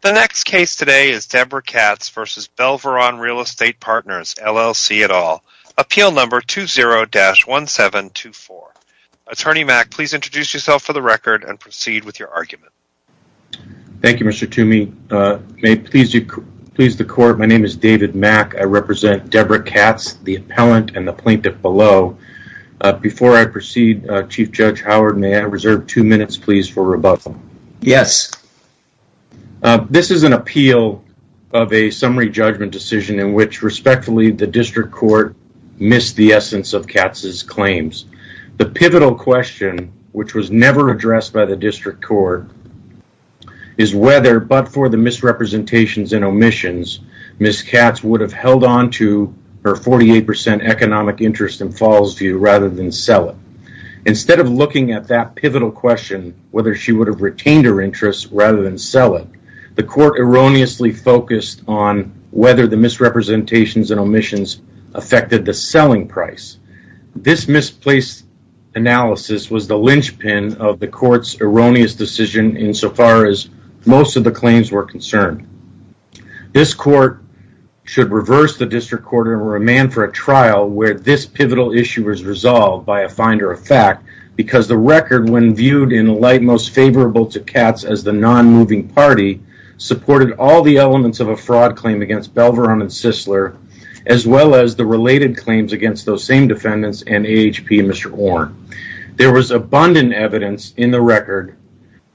The next case today is Deborah Katz v. Belveron Real Estate Partners, LLC, et al., Appeal No. 20-1724. Attorney Mack, please introduce yourself for the record and proceed with your argument. Thank you, Mr. Toomey. May it please the Court, my name is David Mack. I represent Deborah Katz, the appellant and the plaintiff below. Before I proceed, Chief Judge Howard, may I reserve two minutes, please, for rebuttal? Yes. This is an appeal of a summary judgment decision in which, respectfully, the District Court missed the essence of Katz's claims. The pivotal question, which was never addressed by the District Court, is whether, but for the misrepresentations and omissions, Ms. Katz would have held on to her 48% economic interest in Fallsview rather than sell it. Instead of looking at that pivotal question, whether she would have retained her interest rather than sell it, the Court erroneously focused on whether the misrepresentations and omissions affected the selling price. This misplaced analysis was the linchpin of the Court's erroneous decision insofar as most of the claims were concerned. This Court should reverse the District Court and remand for a trial where this pivotal issue is resolved by a finder of fact because the record, when viewed in the light most favorable to Katz as the non-moving party, supported all the elements of a fraud claim against Belveron and Sisler, as well as the related claims against those same defendants and AHP and Mr. Orn. There was abundant evidence in the record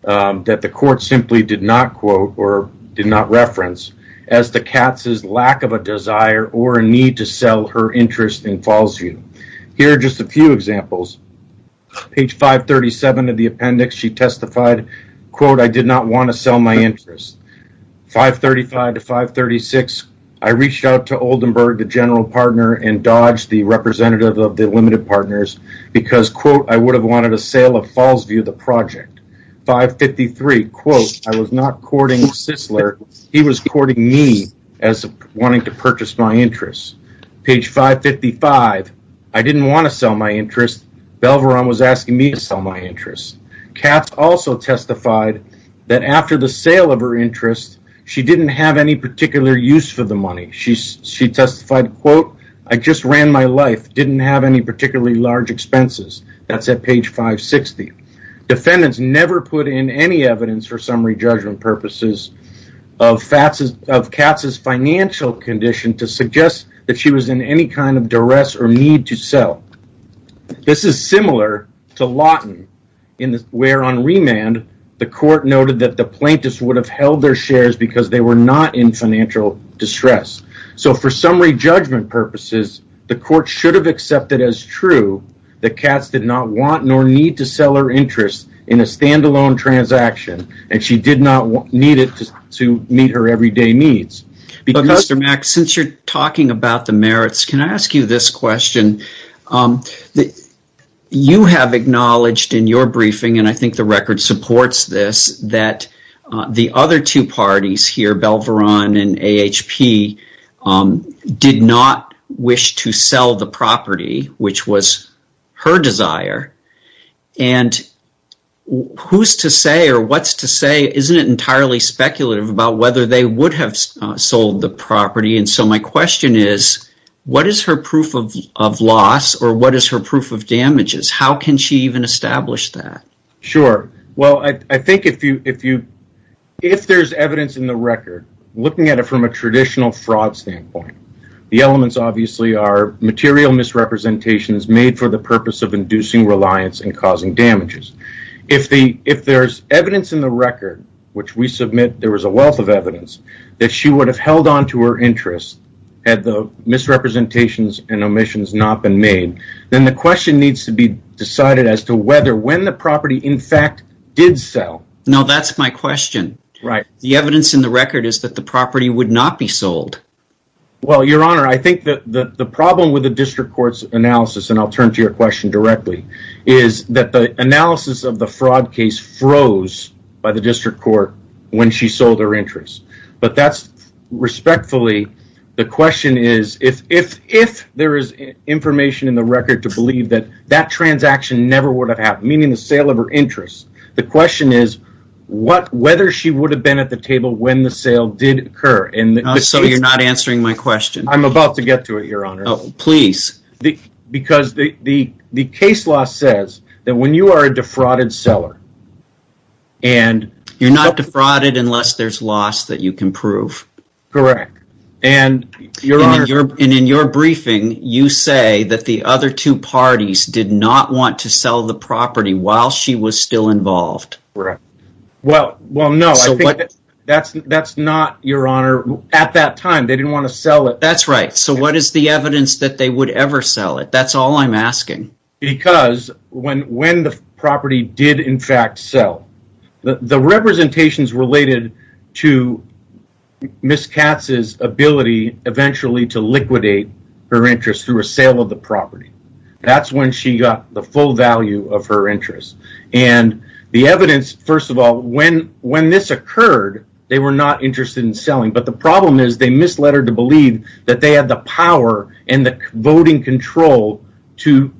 that the Court simply did not quote or did not reference as to Katz's lack of a desire or a need to sell her interest in Fallsview. Here are just a few examples. Page 537 of the appendix, she testified, quote, I did not want to sell my interest. 535 to 536, I reached out to Oldenburg, the general partner, and Dodge, the representative of the limited partners, because, quote, I would have wanted a sale of Fallsview, the project. 553, quote, I was not courting Sisler. He was courting me as wanting to purchase my interest. Page 555, I didn't want to sell my interest. Belveron was asking me to sell my interest. Katz also testified that after the sale of her interest, she didn't have any particular use for the money. She testified, quote, I just ran my life, didn't have any particularly large expenses. That's at page 560. Defendants never put in any evidence for summary judgment purposes of Katz's financial condition to suggest that she was in any kind of duress or need to sell. This is similar to Lawton, where on remand, the court noted that the plaintiffs would have held their shares because they were not in financial distress. So for summary judgment purposes, the court should have accepted as true that Katz did not want nor need to sell her interest in a standalone transaction, and she did not need it to meet her everyday needs. Mr. Mack, since you're talking about the merits, can I ask you this question? You have acknowledged in your briefing, and I think the record supports this, that the other two parties here, Belveron and AHP, did not wish to sell the property, which was her desire, and who's to say or what's to say isn't entirely speculative about whether they would have sold the property, and so my question is, what is her proof of loss or what is her proof of damages? How can she even establish that? Sure. Well, I think if there's evidence in the record, looking at it from a traditional fraud standpoint, the elements obviously are material misrepresentations made for the purpose of inducing reliance and causing damages. If there's evidence in the record, which we submit there was a wealth of evidence, that she would have held on to her interest had the misrepresentations and omissions not been made, then the question needs to be decided as to whether when the property in fact did sell. No, that's my question. Right. The evidence in the record is that the property would not be sold. Well, your honor, I think that the problem with the district court's analysis, and I'll of the fraud case froze by the district court when she sold her interest, but that's respectfully, the question is, if there is information in the record to believe that that transaction never would have happened, meaning the sale of her interest, the question is whether she would have been at the table when the sale did occur. So you're not answering my question. I'm about to get to it, your honor. Oh, please. Because the case law says that when you are a defrauded seller. And you're not defrauded unless there's loss that you can prove. Correct. And in your briefing, you say that the other two parties did not want to sell the property while she was still involved. Correct. Well, no, I think that's not, your honor, at that time, they didn't want to sell it. That's right. So what is the evidence that they would ever sell it? That's all I'm asking. Because when the property did, in fact, sell, the representations related to Ms. Katz's ability eventually to liquidate her interest through a sale of the property, that's when she got the full value of her interest. And the evidence, first of all, when this occurred, they were not interested in selling. But the problem is they misled her to believe that they had the power and the voting control to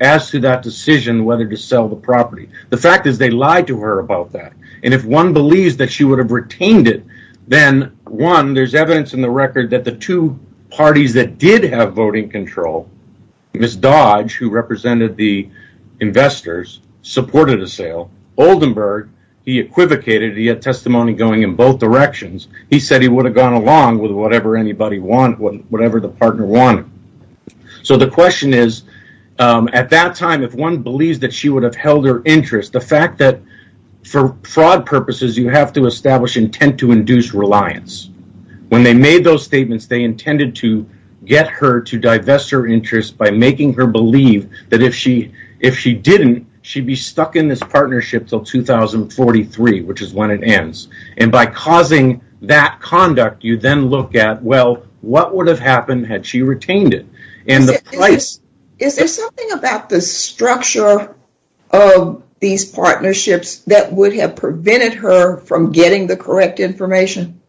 ask that decision whether to sell the property. The fact is they lied to her about that. And if one believes that she would have retained it, then, one, there's evidence in the record that the two parties that did have voting control, Ms. Dodge, who represented the investors, supported a sale. Oldenburg, he equivocated. He had testimony going in both directions. He said he would have gone along with whatever the partner wanted. So the question is, at that time, if one believes that she would have held her interest, the fact that for fraud purposes, you have to establish intent to induce reliance. When they made those statements, they intended to get her to divest her interest by making her believe that if she didn't, she'd be stuck in this partnership until 2043, which is when it ends. And by causing that conduct, you then look at, well, what would have happened had she retained it? Is there something about the structure of these partnerships that would have prevented her from getting the correct information?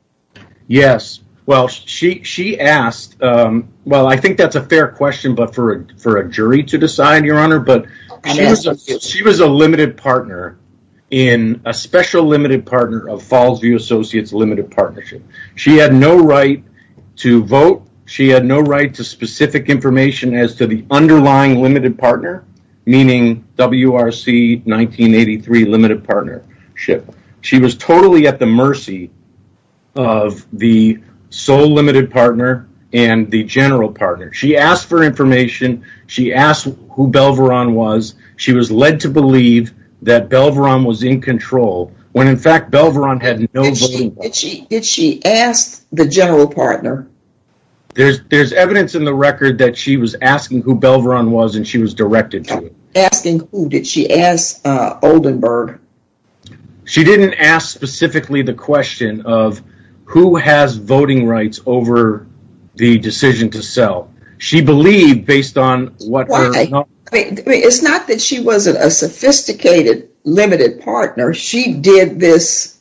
Yes. Well, she asked, well, I think that's a fair question, but for a jury to decide, Your Honor. She was a limited partner in a special limited partner of Fallsview Associates Limited Partnership. She had no right to vote. She had no right to specific information as to the underlying limited partner, meaning WRC 1983 Limited Partnership. She was totally at the mercy of the sole limited partner and the general partner. She asked for information. She asked who Belveron was. She was led to believe that Belveron was in control when, in fact, Belveron had no voting rights. Did she ask the general partner? There's evidence in the record that she was asking who Belveron was and she was directed to it. Asking who? Did she ask Oldenburg? sell. She believed based on what? Why? It's not that she wasn't a sophisticated limited partner. She did this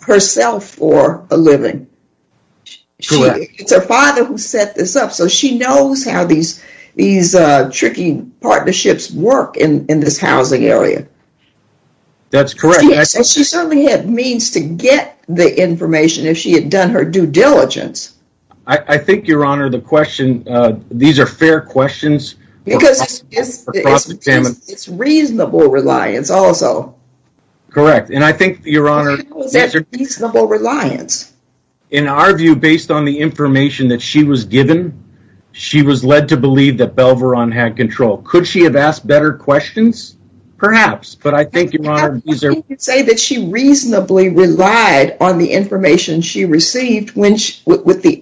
herself for a living. It's her father who set this up, so she knows how these tricky partnerships work in this housing area. That's correct. She certainly had means to get the information if she had done her due diligence. I think, Your Honor, these are fair questions. It's reasonable reliance also. Correct. And I think, Your Honor, in our view, based on the information that she was given, she was led to believe that Belveron had control. Could she have asked better questions? Perhaps, but I think, Your Honor, these are... the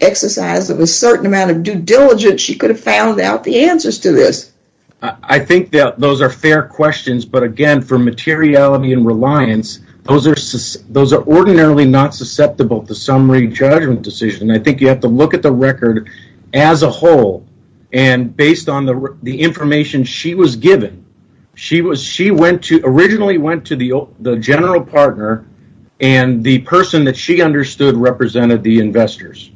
exercise of a certain amount of due diligence, she could have found out the answers to this. I think that those are fair questions, but again, for materiality and reliance, those are ordinarily not susceptible to summary judgment decision. I think you have to look at the record as a whole and based on the information she was given, she originally went to the general partner and the person that she understood represented the investors.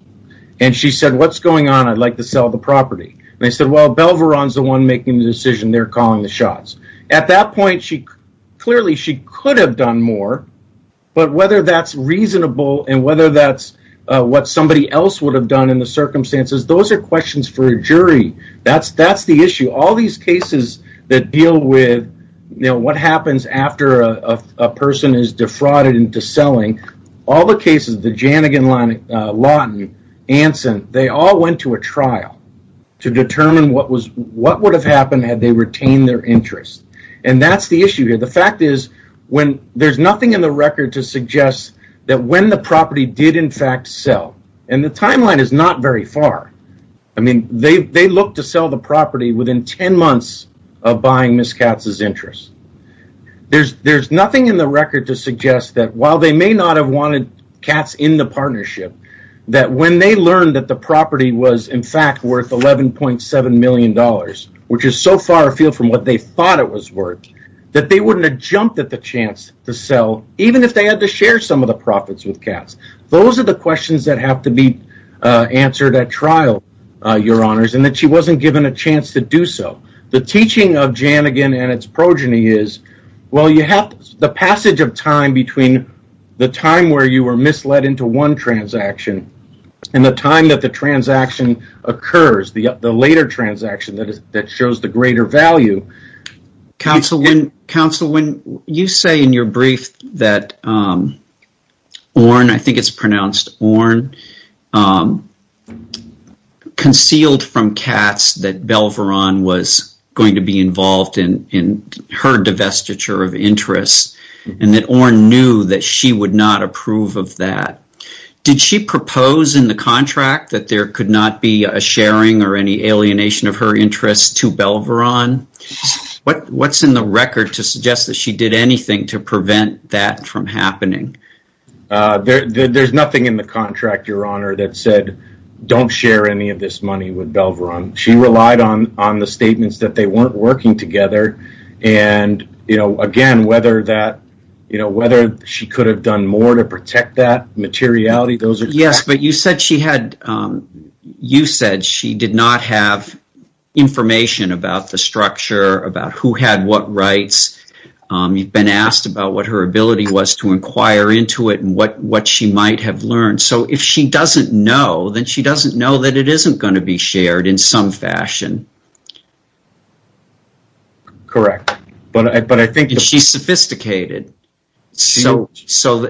And she said, what's going on? I'd like to sell the property. And they said, well, Belveron's the one making the decision. They're calling the shots. At that point, clearly, she could have done more, but whether that's reasonable and whether that's what somebody else would have done in the circumstances, those are questions for a jury. That's the issue. All these cases that deal with what happens after a person is defrauded into selling, all the cases, the Jannigan, Lawton, Anson, they all went to a trial to determine what would have happened had they retained their interest. And that's the issue here. The fact is, there's nothing in the record to suggest that when the property did, in fact, sell. And the timeline is not very far. I mean, they looked to sell the property within 10 months of buying Ms. Katz's interest. There's nothing in the record to suggest that while they may not have wanted Katz in the partnership, that when they learned that the property was, in fact, worth $11.7 million, which is so far afield from what they thought it was worth, that they wouldn't have jumped at the chance to sell, even if they had to share some of the profits with Katz. Those are the questions that have to be answered at trial, Your Honors, and that she wasn't given a chance to do so. The teaching of Jannigan and its progeny is, well, you have the passage of time between the time where you were misled into one transaction and the time that the transaction occurs, the later transaction that shows the greater value. Counsel, when you say in your brief that Orne, I think it's pronounced Orne, concealed from Katz that Belveron was going to be involved in her divestiture of interest, and that Orne knew that she would not approve of that, did she propose in the contract that there could not be a sharing or any alienation of her interest to Belveron? What's in the record to suggest that she did anything to prevent that from happening? There's nothing in the contract, Your Honor, that said don't share any of this money with Belveron. She relied on the statements that they weren't working together, and again, whether she could have done more to protect that materiality, those are facts. You said she did not have information about the structure, about who had what rights. You've been asked about what her ability was to inquire into it and what she might have learned. So if she doesn't know, then she doesn't know that it isn't going to be shared in some fashion. Correct. She's sophisticated. So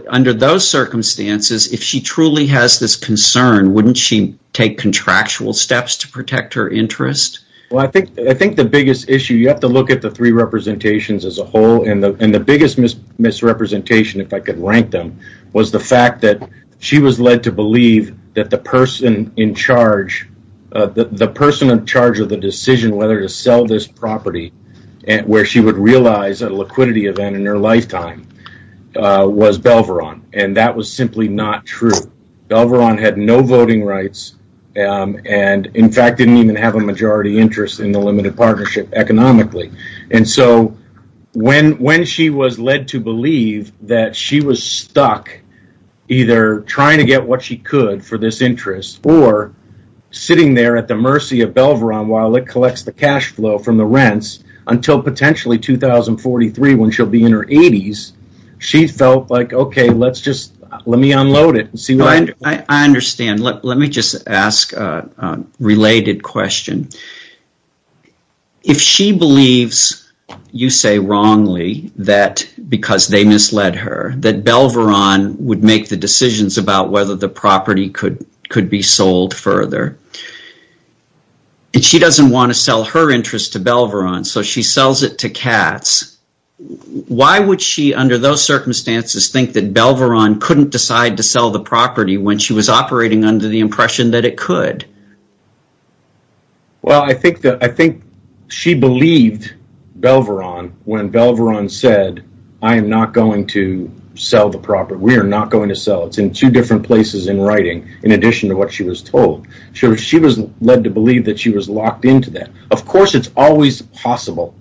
under those circumstances, if she truly has this concern, wouldn't she take contractual steps to protect her interest? Well, I think the biggest issue, you have to look at the three representations as a whole, and the biggest misrepresentation, if I could rank them, was the fact that she was led to believe that the person in charge of the decision whether to sell this property, where she would realize a liquidity event in her lifetime, was Belveron, and that was simply not true. Belveron had no voting rights and, in fact, didn't even have a majority interest in the limited partnership economically, and so when she was led to believe that she was stuck either trying to get what she could for this interest or sitting there at the mercy of Belveron while it collects the cash flow from the rents until potentially 2043 when she'll be in her 80s, she felt like, okay, let me unload it and see what happens. I understand. Let me just ask a related question. If she believes, you say wrongly, that because they misled her that Belveron would make the decisions about whether the property could be sold further, and she doesn't want to sell her interest to Belveron, so she sells it to Katz, why would she, under those circumstances, think that Belveron couldn't decide to sell the property when she was operating under the impression that it could? Well, I think she believed Belveron when Belveron said, I am not going to sell the property. We are not going to sell it. It's in two different places in writing in addition to what she was told. She was led to believe that she was locked into that. Of course, it's always possible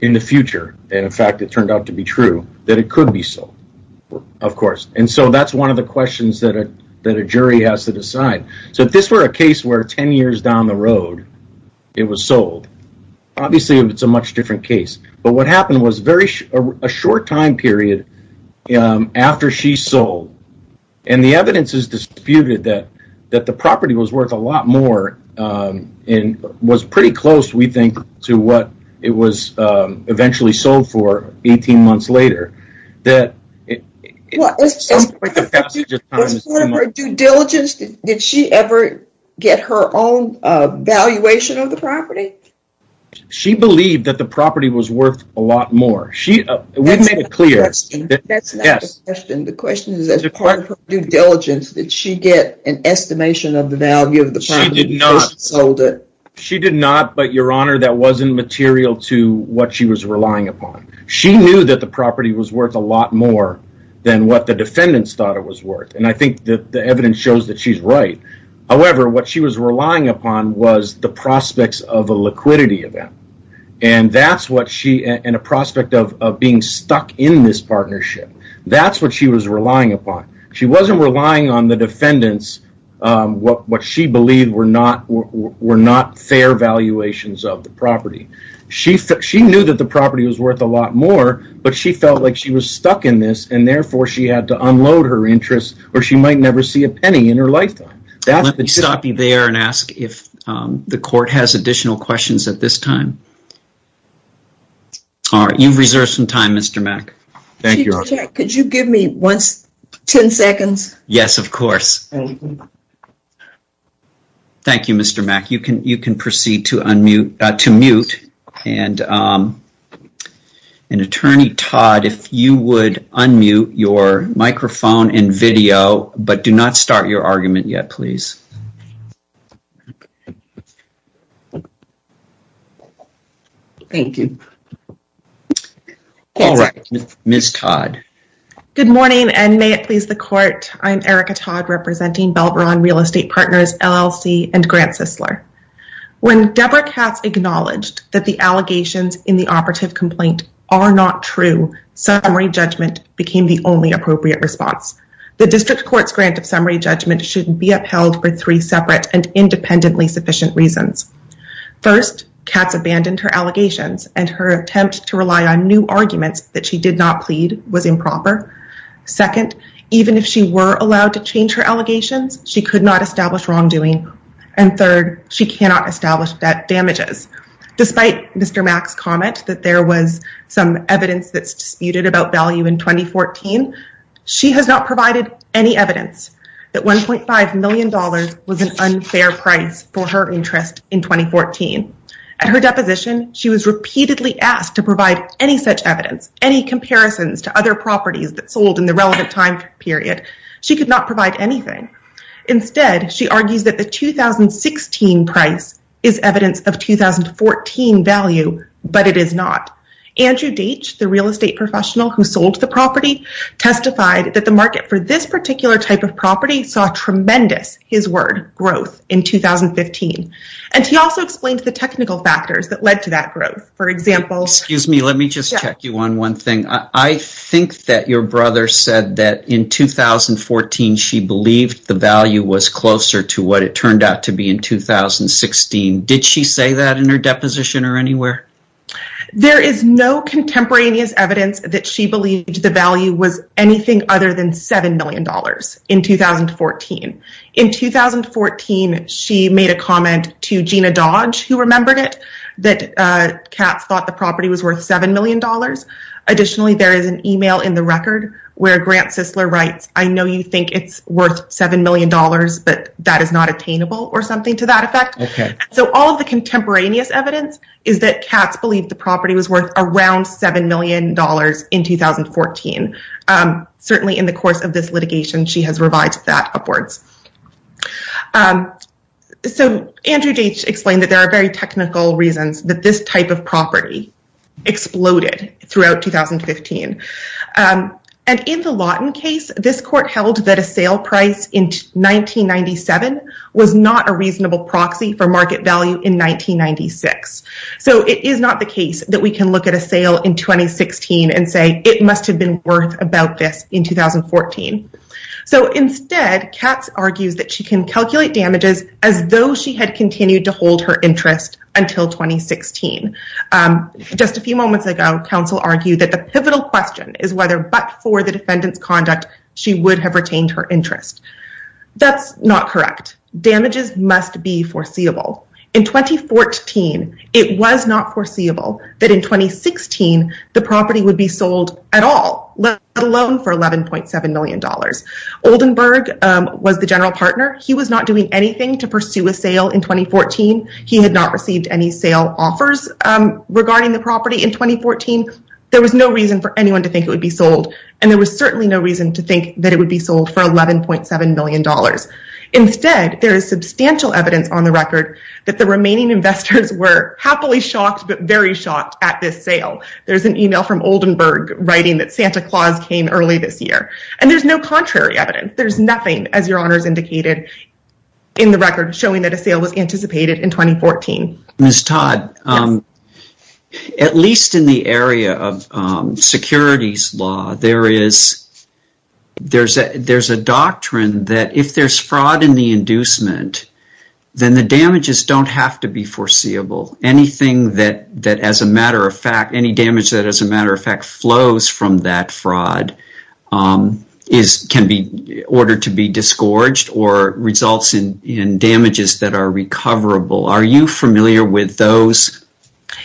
in the future, and in fact, it turned out to be true, that it could be sold, of course. And so that's one of the questions that a jury has to decide. So if this were a case where 10 years down the road, it was sold, obviously, it's a much different case. But what happened was a short time period after she sold, and the evidence is disputed that the property was worth a lot more, and was pretty close, we think, to what it was eventually sold for 18 months later. Did she ever get her own valuation of the property? She believed that the property was worth a lot more. We've made it clear. That's not the question. The question is, as part of her due diligence, did she get an estimation of the value of the property before she sold it? She did not, but, Your Honor, that wasn't material to what she was relying upon. She knew that the property was worth a lot more than what the defendants thought it was worth, and I think that the evidence shows that she's right. However, what she was relying upon was the prospects of a liquidity event, and a prospect of being stuck in this partnership. That's what she was relying upon. She wasn't relying on the defendants, what she believed were not fair valuations of the property. She knew that the property was worth a lot more, but she felt like she was stuck in this, and therefore, she had to unload her interest, or she might never see a penny in her lifetime. Let me stop you there and ask if the court has additional questions at this time. All right. You've reserved some time, Mr. Mack. Thank you, Your Honor. Could you give me 10 seconds? Yes, of course. Thank you, Mr. Mack. You can proceed to mute, and Attorney Todd, if you would unmute your microphone and video, but do not start your argument yet, please. Thank you. All right. Ms. Todd. Good morning, and may it please the court. I'm Erica Todd, representing Belveron Real Estate Partners, LLC, and Grant Sissler. When Deborah Katz acknowledged that the allegations in the operative complaint are not true, summary judgment became the only appropriate response. The district court's grant of summary judgment shouldn't be upheld for three separate and independently sufficient reasons. First, Katz abandoned her allegations, and her attempt to rely on new arguments that she did not plead was improper. Second, even if she were allowed to change her allegations, she could not establish wrongdoing, and third, she cannot establish damages. Despite Mr. Mack's comment that there was some evidence that's disputed about value in 2014, she has not provided any evidence that $1.5 million was an unfair price for her interest in 2014. At her deposition, she was repeatedly asked to provide any such evidence, any comparisons to other properties that sold in the relevant time period. She could not provide anything. Instead, she argues that the 2016 price is evidence of 2014 value, but it is not. Andrew Deitch, the real estate professional who sold the property, testified that the market for this particular type of property saw tremendous, his word, growth in 2015, and he also explained the technical factors that led to that growth. For example... Excuse me, let me just check you on one thing. I think that your brother said that in 2014, she believed the value was closer to what it turned out to be in 2016. Did she say that in her deposition or anywhere? There is no contemporaneous evidence that she believed the value was anything other than $7 million in 2014. In 2014, she made a comment to Gina Dodge, who remembered it, that Katz thought the property was worth $7 million. Additionally, there is an email in the record where Grant Sisler writes, I know you think it's worth $7 million, but that is not attainable or something to that effect. So all of the contemporaneous evidence is that Katz believed the property was worth around $7 million in 2014. Certainly in the course of this litigation, she has revised that upwards. So Andrew Deitch explained that there are very technical reasons that this type of property exploded throughout 2015. And in the Lawton case, this court held that a sale price in 1997 was not a reasonable proxy for market value in 1996. So it is not the case that we can look at a sale in 2016 and say, it must have been worth about this in 2014. So instead, Katz argues that she can calculate damages as though she had continued to hold her interest until 2016. Just a few moments ago, counsel argued that the pivotal question is whether but for the defendant's conduct, she would have retained her interest. That's not correct. Damages must be foreseeable. In 2014, it was not foreseeable that in 2016, the property would be sold at all, let alone for $11.7 million. Oldenburg was the general partner. He was not doing anything to pursue a sale in 2014. He had not received any sale offers regarding the property in 2014. There was no reason for anyone to think it would be sold. And there was certainly no reason to think that it would be sold for $11.7 million. Instead, there is substantial evidence on the record that the remaining investors were happily shocked but very shocked at this sale. There's an email from Oldenburg writing that Santa Claus came early this year. And there's no contrary evidence. There's nothing, as your honors indicated, in the record showing that a sale was anticipated in 2014. Ms. Todd, at least in the area of securities law, there's a doctrine that if there's fraud in the inducement, then the damages don't have to be foreseeable. Any damage that, as a matter of fact, flows from that fraud can be ordered to be disgorged or results in damages that are recoverable. Are you familiar with those?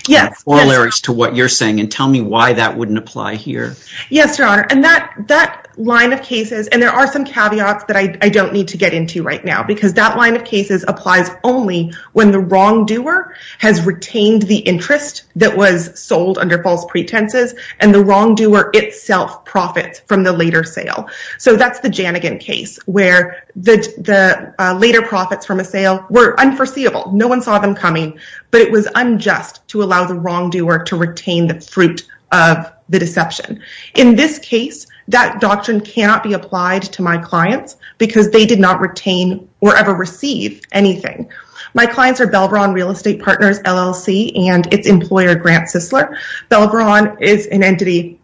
Yes. Oral areas to what you're saying. And tell me why that wouldn't apply here. Yes, your honor. And that line of cases, and there are some caveats that I don't need to get into right now, because that line of cases applies only when the wrongdoer has retained the interest that was sold under false pretenses. And the wrongdoer itself profits from the later sale. So that's the Janigan case where the later profits from a sale were unforeseeable. No one saw them coming. But it was unjust to allow the wrongdoer to retain the fruit of the deception. In this case, that doctrine cannot be applied to my clients because they did not retain or ever receive anything. My clients are Belvron Real Estate Partners LLC and its employer, Grant Sissler. Belvron is an entity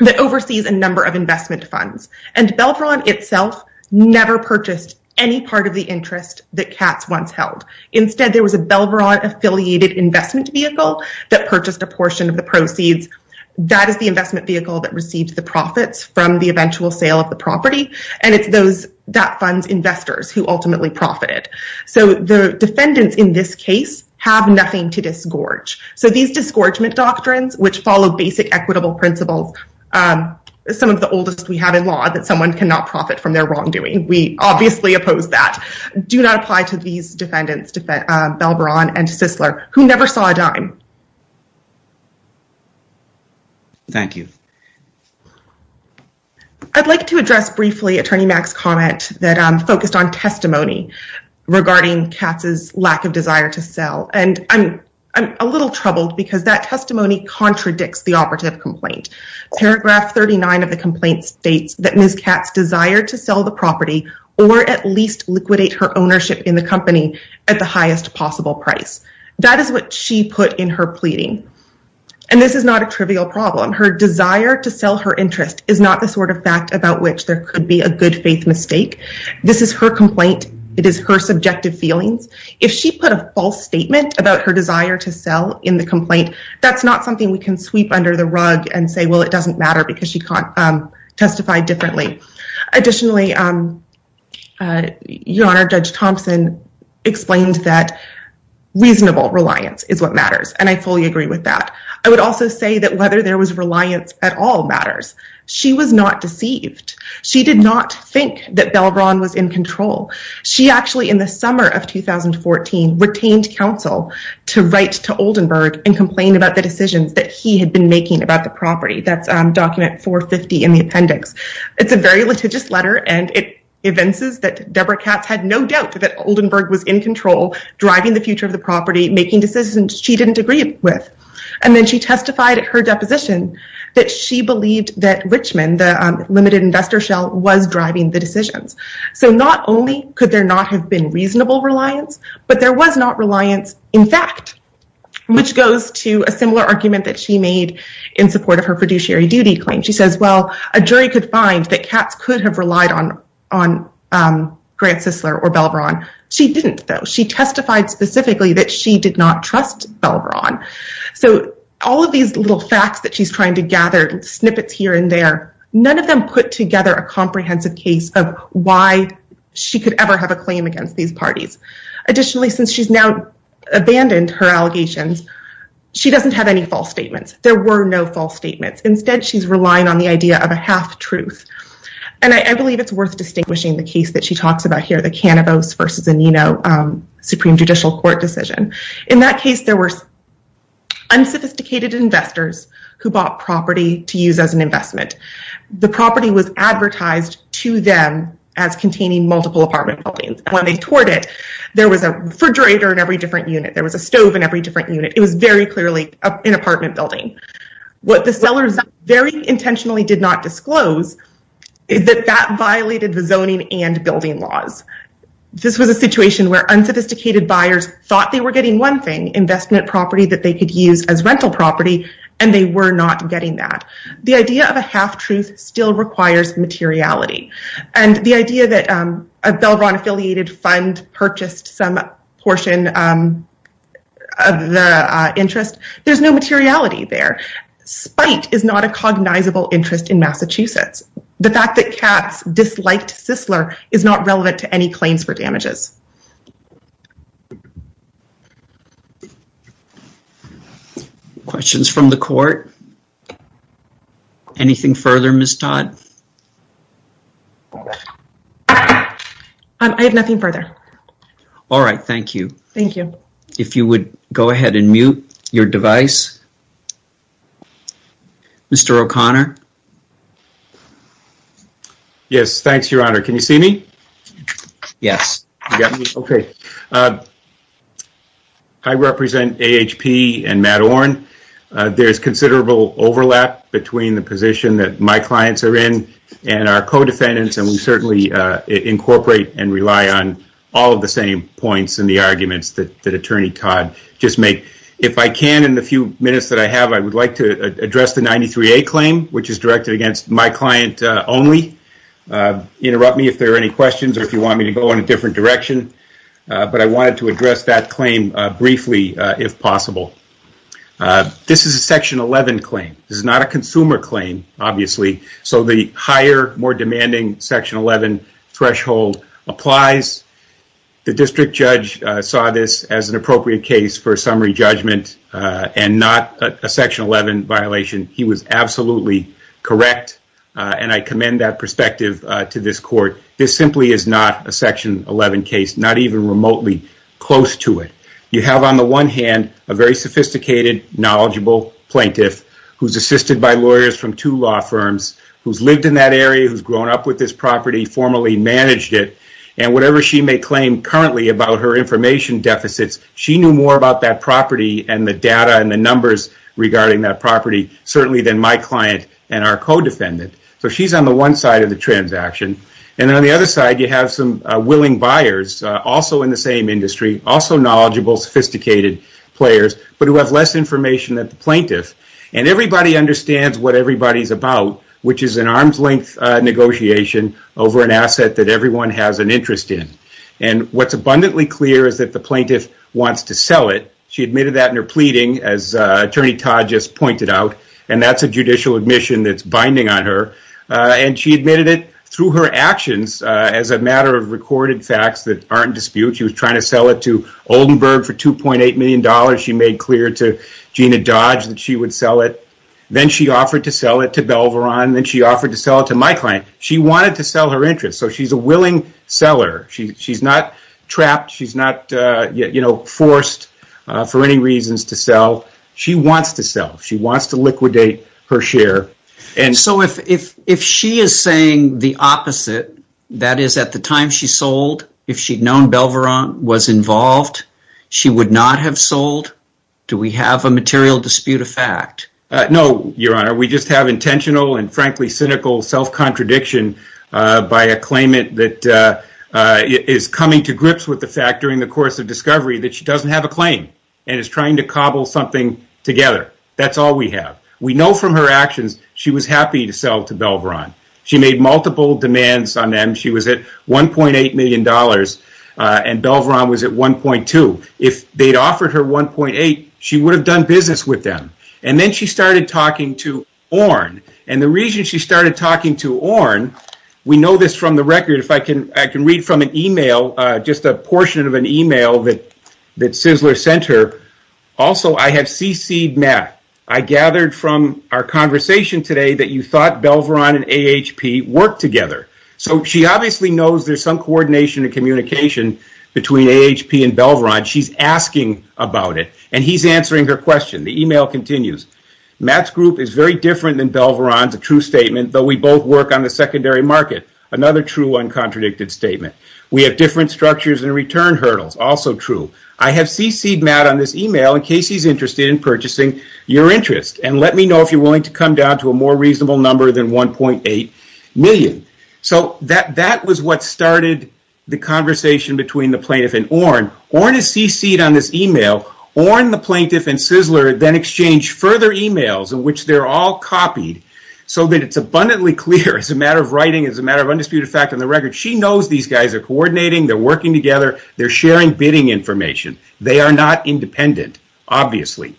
that oversees a number of investment funds. And Belvron itself never purchased any part of the interest that Katz once held. Instead, there was a Belvron-affiliated investment vehicle that purchased a portion of the proceeds. That is the investment vehicle that received the profits from the eventual sale of the property. And it's those that funds investors who ultimately profited. So the defendants in this case have nothing to disgorge. So these disgorgement doctrines, which follow basic equitable principles, some of the oldest we have in law, that someone cannot profit from their wrongdoing. We obviously oppose that. Do not apply to these defendants, Belvron and Sissler, who never saw a dime. Thank you. I'd like to address briefly Attorney Mack's comment that focused on testimony regarding Katz's lack of desire to sell. And I'm a little troubled because that testimony contradicts the operative complaint. Paragraph 39 of the complaint states that Ms. Katz desired to sell the property or at least liquidate her ownership in the company at the highest possible price. That is what she put in her pleading. And this is not a trivial problem. Her desire to sell her interest is not the sort of fact about which there could be a good faith mistake. This is her complaint. It is her subjective feelings. If she put a false statement about her desire to sell in the complaint, that's not something we can sweep under the rug and say, well, it doesn't matter because she testified differently. Additionally, Your Honor, Judge Thompson explained that reasonable reliance is what matters. And I fully agree with that. I would also say that whether there was reliance at all matters. She was not deceived. She did not think that Belvron was in control. She actually, in the summer of 2014, retained counsel to write to Oldenburg and complain about the decisions that he had been making about the property. That's document 450 in the appendix. It's a very litigious letter. And it evinces that Deborah Katz had no doubt that Oldenburg was in control, driving the future of the property, making decisions she didn't agree with. And then she testified at her deposition that she believed that Richmond, the limited investor shell, was driving the decisions. So not only could there not have been reasonable reliance, but there was not reliance in fact, which goes to a similar argument that she made in support of her fiduciary duty claim. She says, well, a jury could find that Katz could have relied on Grant Sissler or Belvron. She didn't, though. She testified specifically that she did not trust Belvron. So all of these little facts that she's trying to gather snippets here and there, none of them put together a comprehensive case of why she could ever have a claim against these parties. Additionally, since she's now abandoned her allegations, she doesn't have any false statements. There were no false statements. Instead, she's relying on the idea of a half truth. And I believe it's worth distinguishing the case that she talks about here, the Cannabis versus the Nino Supreme Judicial Court decision. In that case, there were unsophisticated investors who bought property to use as an investment. The property was advertised to them as containing multiple apartment buildings. And when they toured it, there was a refrigerator in every different unit. There was a stove in every different unit. It was very clearly an apartment building. What the sellers very intentionally did not disclose is that that violated the zoning and building laws. This was a situation where unsophisticated buyers thought they were getting one thing, investment property that they could use as rental property, and they were not getting that. The idea of a half truth still requires materiality. And the idea that a Belvron-affiliated fund purchased some portion of the interest, there's no materiality there. Spite is not a cognizable interest in Massachusetts. The fact that Katz disliked Sisler is not relevant to any claims for damages. Questions from the court? Anything further, Ms. Todd? I have nothing further. All right, thank you. Thank you. If you would go ahead and mute your device. Mr. O'Connor. Yes, thanks, Your Honor. Can you see me? Yes. Okay. I represent AHP and Matt Oren. There's considerable overlap between the position that my clients are in and our co-defendants. And we certainly incorporate and rely on all of the same points and the arguments that Attorney Todd just made. If I can, in the few minutes that I have, I would like to address the 93A claim, which is directed against my client only. Interrupt me if there are any questions or if you want me to go in a different direction. But I wanted to address that claim briefly, if possible. This is a Section 11 claim. This is not a consumer claim, obviously. So the higher, more demanding Section 11 threshold applies. The district judge saw this as an appropriate case for a summary judgment and not a Section 11 violation. He was absolutely correct. And I commend that perspective to this court. This simply is not a Section 11 case, not even remotely close to it. You have, on the one hand, a very sophisticated, knowledgeable plaintiff who's assisted by lawyers from two law firms, who's lived in that area, who's grown up with this property, formally managed it. And whatever she may claim currently about her information deficits, she knew more about that property and the data and the numbers regarding that property, certainly than my client and our co-defendant. So she's on the one side of the transaction. And then on the other side, you have some willing buyers, also in the same industry, also knowledgeable, sophisticated players, but who have less information than the plaintiff. And everybody understands what everybody's about, which is an arm's length negotiation over an asset that everyone has an interest in. And what's abundantly clear is that the plaintiff wants to sell it. She admitted that in her pleading, as Attorney Todd just pointed out. And that's a judicial admission that's binding on her. And she admitted it through her actions, as a matter of recorded facts that aren't disputed. She was trying to sell it to Oldenburg for $2.8 million. She made clear to Gina Dodge that she would sell it. Then she offered to sell it to Belveron. Then she offered to sell it to my client. She wanted to sell her interest. She's a willing seller. She's not trapped. She's not forced for any reasons to sell. She wants to sell. She wants to liquidate her share. So if she is saying the opposite, that is, at the time she sold, if she'd known Belveron was involved, she would not have sold? Do we have a material dispute of fact? No, Your Honor. We just have intentional and, frankly, cynical self-contradiction by a claimant that is coming to grips with the fact, during the course of discovery, that she doesn't have a claim and is trying to cobble something together. That's all we have. We know from her actions she was happy to sell to Belveron. She made multiple demands on them. She was at $1.8 million and Belveron was at $1.2. If they'd offered her $1.8, she would have done business with them. And then she started talking to Orn. And the reason she started talking to Orn, we know this from the record. If I can read from an email, just a portion of an email that Sizzler sent her. Also, I have cc'd Matt. I gathered from our conversation today that you thought Belveron and AHP worked together. So she obviously knows there's some coordination and communication between AHP and Belveron. She's asking about it and he's answering her question. The email continues. Matt's group is very different than Belveron's, a true statement, though we both work on the secondary market. Another true, uncontradicted statement. We have different structures and return hurdles. Also true. I have cc'd Matt on this email in case he's interested in purchasing your interest. And let me know if you're willing to come down to a more reasonable number than $1.8 million. So that was what started the conversation between the plaintiff and Orn. Orn has cc'd on this email. Orn, the plaintiff, and Sizzler then exchange further emails in which they're all copied so that it's abundantly clear as a matter of writing, as a matter of undisputed fact, on the record, she knows these guys are coordinating. They're working together. They're sharing bidding information. They are not independent, obviously.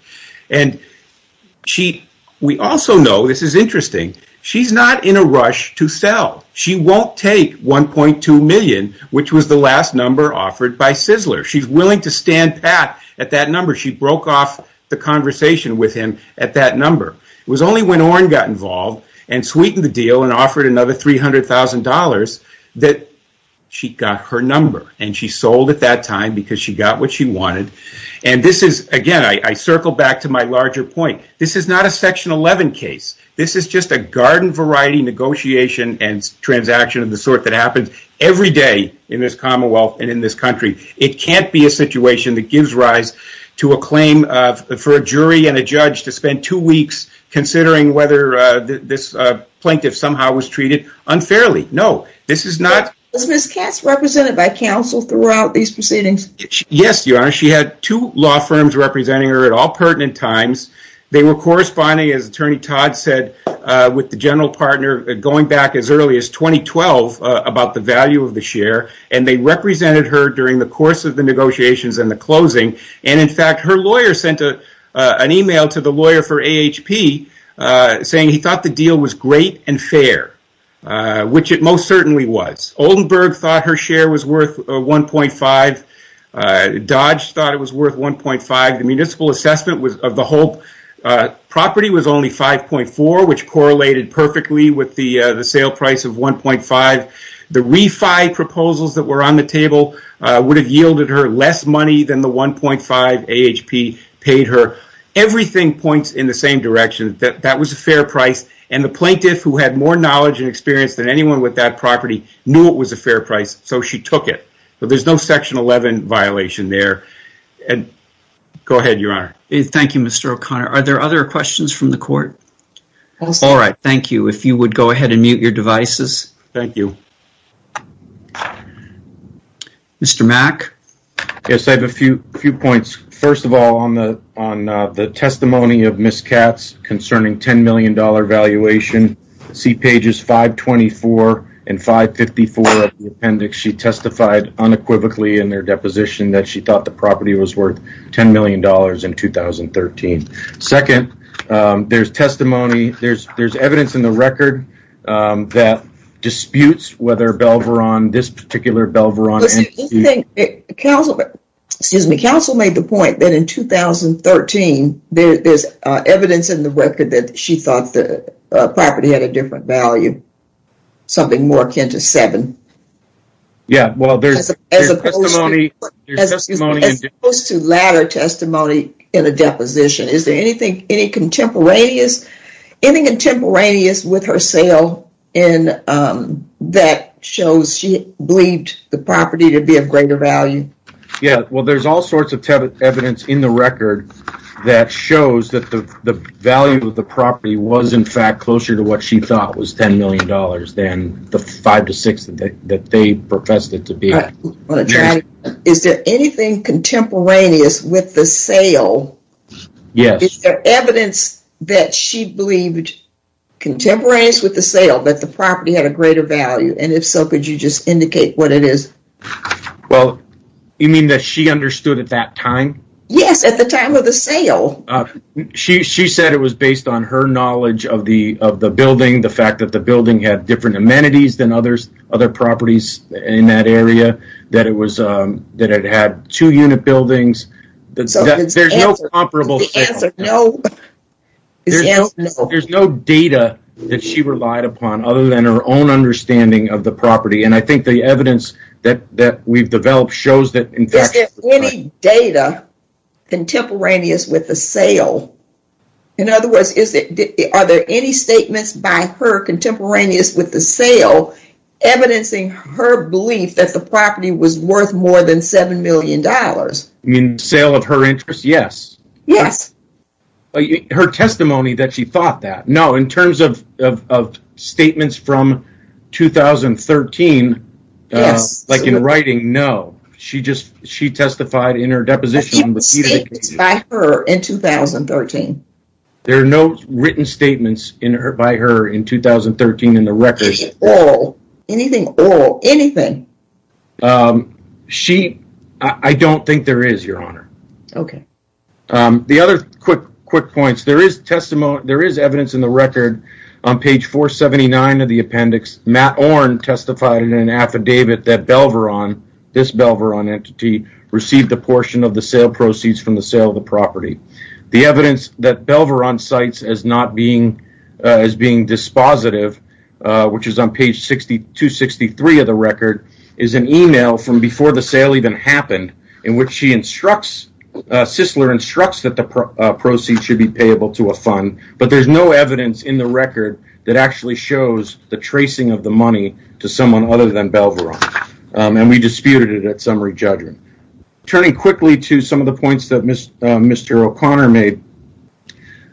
We also know, this is interesting, she's not in a rush to sell. She won't take $1.2 million, which was the last number offered by Sizzler. She's willing to stand pat at that number. She broke off the conversation with him at that number. It was only when Orn got involved and sweetened the deal and offered another $300,000 that she got her number. And she sold at that time because she got what she wanted. And this is, again, I circle back to my larger point. This is not a Section 11 case. This is just a garden variety negotiation and transaction of the sort that happens every day in this commonwealth and in this country. It can't be a situation that gives rise to a claim for a jury and a judge to spend two weeks considering whether this plaintiff somehow was treated unfairly. No, this is not... Was Ms. Katz represented by counsel throughout these proceedings? Yes, Your Honor. She had two law firms representing her at all pertinent times. They were corresponding, as Attorney Todd said, with the general partner going back as early as 2012 about the value of the share. And they represented her during the course of the negotiations and the closing. And in fact, her lawyer sent an email to the lawyer for AHP saying he thought the deal was great and fair, which it most certainly was. Oldenburg thought her share was worth $1.5. Dodge thought it was worth $1.5. The municipal assessment of the whole property was only $5.4, which correlated perfectly with the sale price of $1.5. The refi proposals that were on the table would have yielded her less money than the $1.5 AHP paid her. Everything points in the same direction, that that was a fair price. And the plaintiff, who had more knowledge and experience than anyone with that property, knew it was a fair price, so she took it. But there's no Section 11 violation there. And go ahead, Your Honor. Thank you, Mr. O'Connor. Are there other questions from the court? All right. Thank you. If you would go ahead and mute your devices. Thank you. Mr. Mack? Yes, I have a few points. First of all, on the testimony of Ms. Katz concerning $10 million valuation, see pages 524 and 554 of the appendix, she testified unequivocally in their deposition that she thought the property was worth $10 million in 2013. Second, there's testimony, there's evidence in the record that disputes whether Belveron, this particular Belveron, Excuse me. Counsel made the point that in 2013, there's evidence in the record that she thought the property had a different value, something more akin to $7 million. Yeah, well, there's your testimony. As opposed to latter testimony in a deposition. Is there anything contemporaneous with her sale that shows she believed the property to be of greater value? Yeah, well, there's all sorts of evidence in the record that shows that the value of the property was, in fact, closer to what she thought was $10 million than the five to six that they professed it to be. Is there anything contemporaneous with the sale? Yes. Is there evidence that she believed contemporaneous with the sale that the property had a greater value? And if so, could you just indicate what it is? Well, you mean that she understood at that time? Yes, at the time of the sale. She said it was based on her knowledge of the building, the fact that the building had different amenities than other properties in that area, that it had two unit buildings. So there's no comparable sale. The answer, no. There's no data that she relied upon other than her own understanding of the property, and I think the evidence that we've developed shows that, in fact- Is there any data contemporaneous with the sale? In other words, are there any statements by her contemporaneous with the sale evidencing her belief that the property was worth more than $7 million? You mean sale of her interest? Yes. Yes. Her testimony that she thought that. No, in terms of statements from 2013, like in writing, no. She just testified in her deposition- She had statements by her in 2013. There are no written statements by her in 2013 in the records. Oral. Anything oral. Anything. She, I don't think there is, Your Honor. Okay. The other quick points, there is evidence in the record on page 479 of the appendix, Matt Orne testified in an affidavit that Belveron, this Belveron entity, received a portion of the sale proceeds from the sale of the property. The evidence that Belveron cites as being dispositive, which is on page 263 of the record, is an email from before the sale even happened, in which she instructs, Sisler instructs that the proceeds should be payable to a fund, but there is no evidence in the record that actually shows the tracing of the money to someone other than Belveron. And we disputed it at summary judgment. Turning quickly to some of the points that Mr. O'Connor made,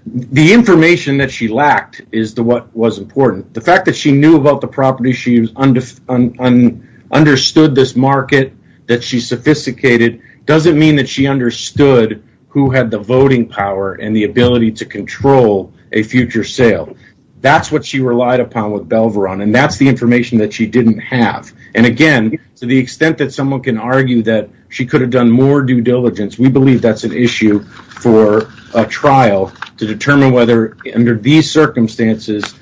the information that she lacked is what was important. The fact that she knew about the property, she understood this market, that she sophisticated, doesn't mean that she understood who had the voting power and the ability to control a future sale. That's what she relied upon with Belveron, and that's the information that she didn't have. And again, to the extent that someone can argue that she could have done more due diligence, we believe that's an issue for a trial to determine whether, under these circumstances,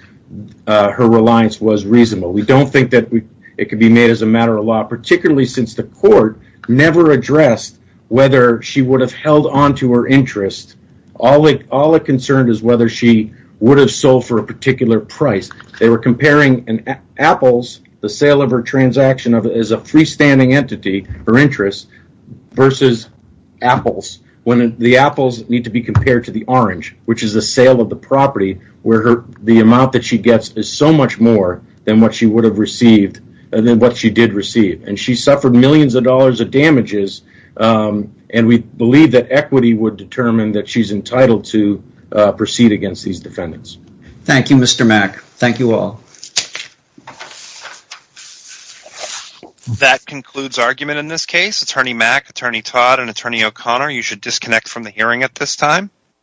her reliance was reasonable. We don't think that it could be made as a matter of law, particularly since the court never addressed whether she would have held on to her interest. All it concerned is whether she would have sold for a particular price. They were comparing apples, the sale of her transaction as a freestanding entity, her interest, versus apples, when the apples need to be compared to the orange, which is the sale of the property, where the amount that she gets is so much more than what she would have received, than what she did receive. And she suffered millions of dollars of damages, and we believe that equity would determine that she's entitled to proceed against these defendants. Thank you, Mr. Mack. Thank you all. Thank you. That concludes argument in this case. Attorney Mack, Attorney Todd, and Attorney O'Connor, you should disconnect from the hearing at this time.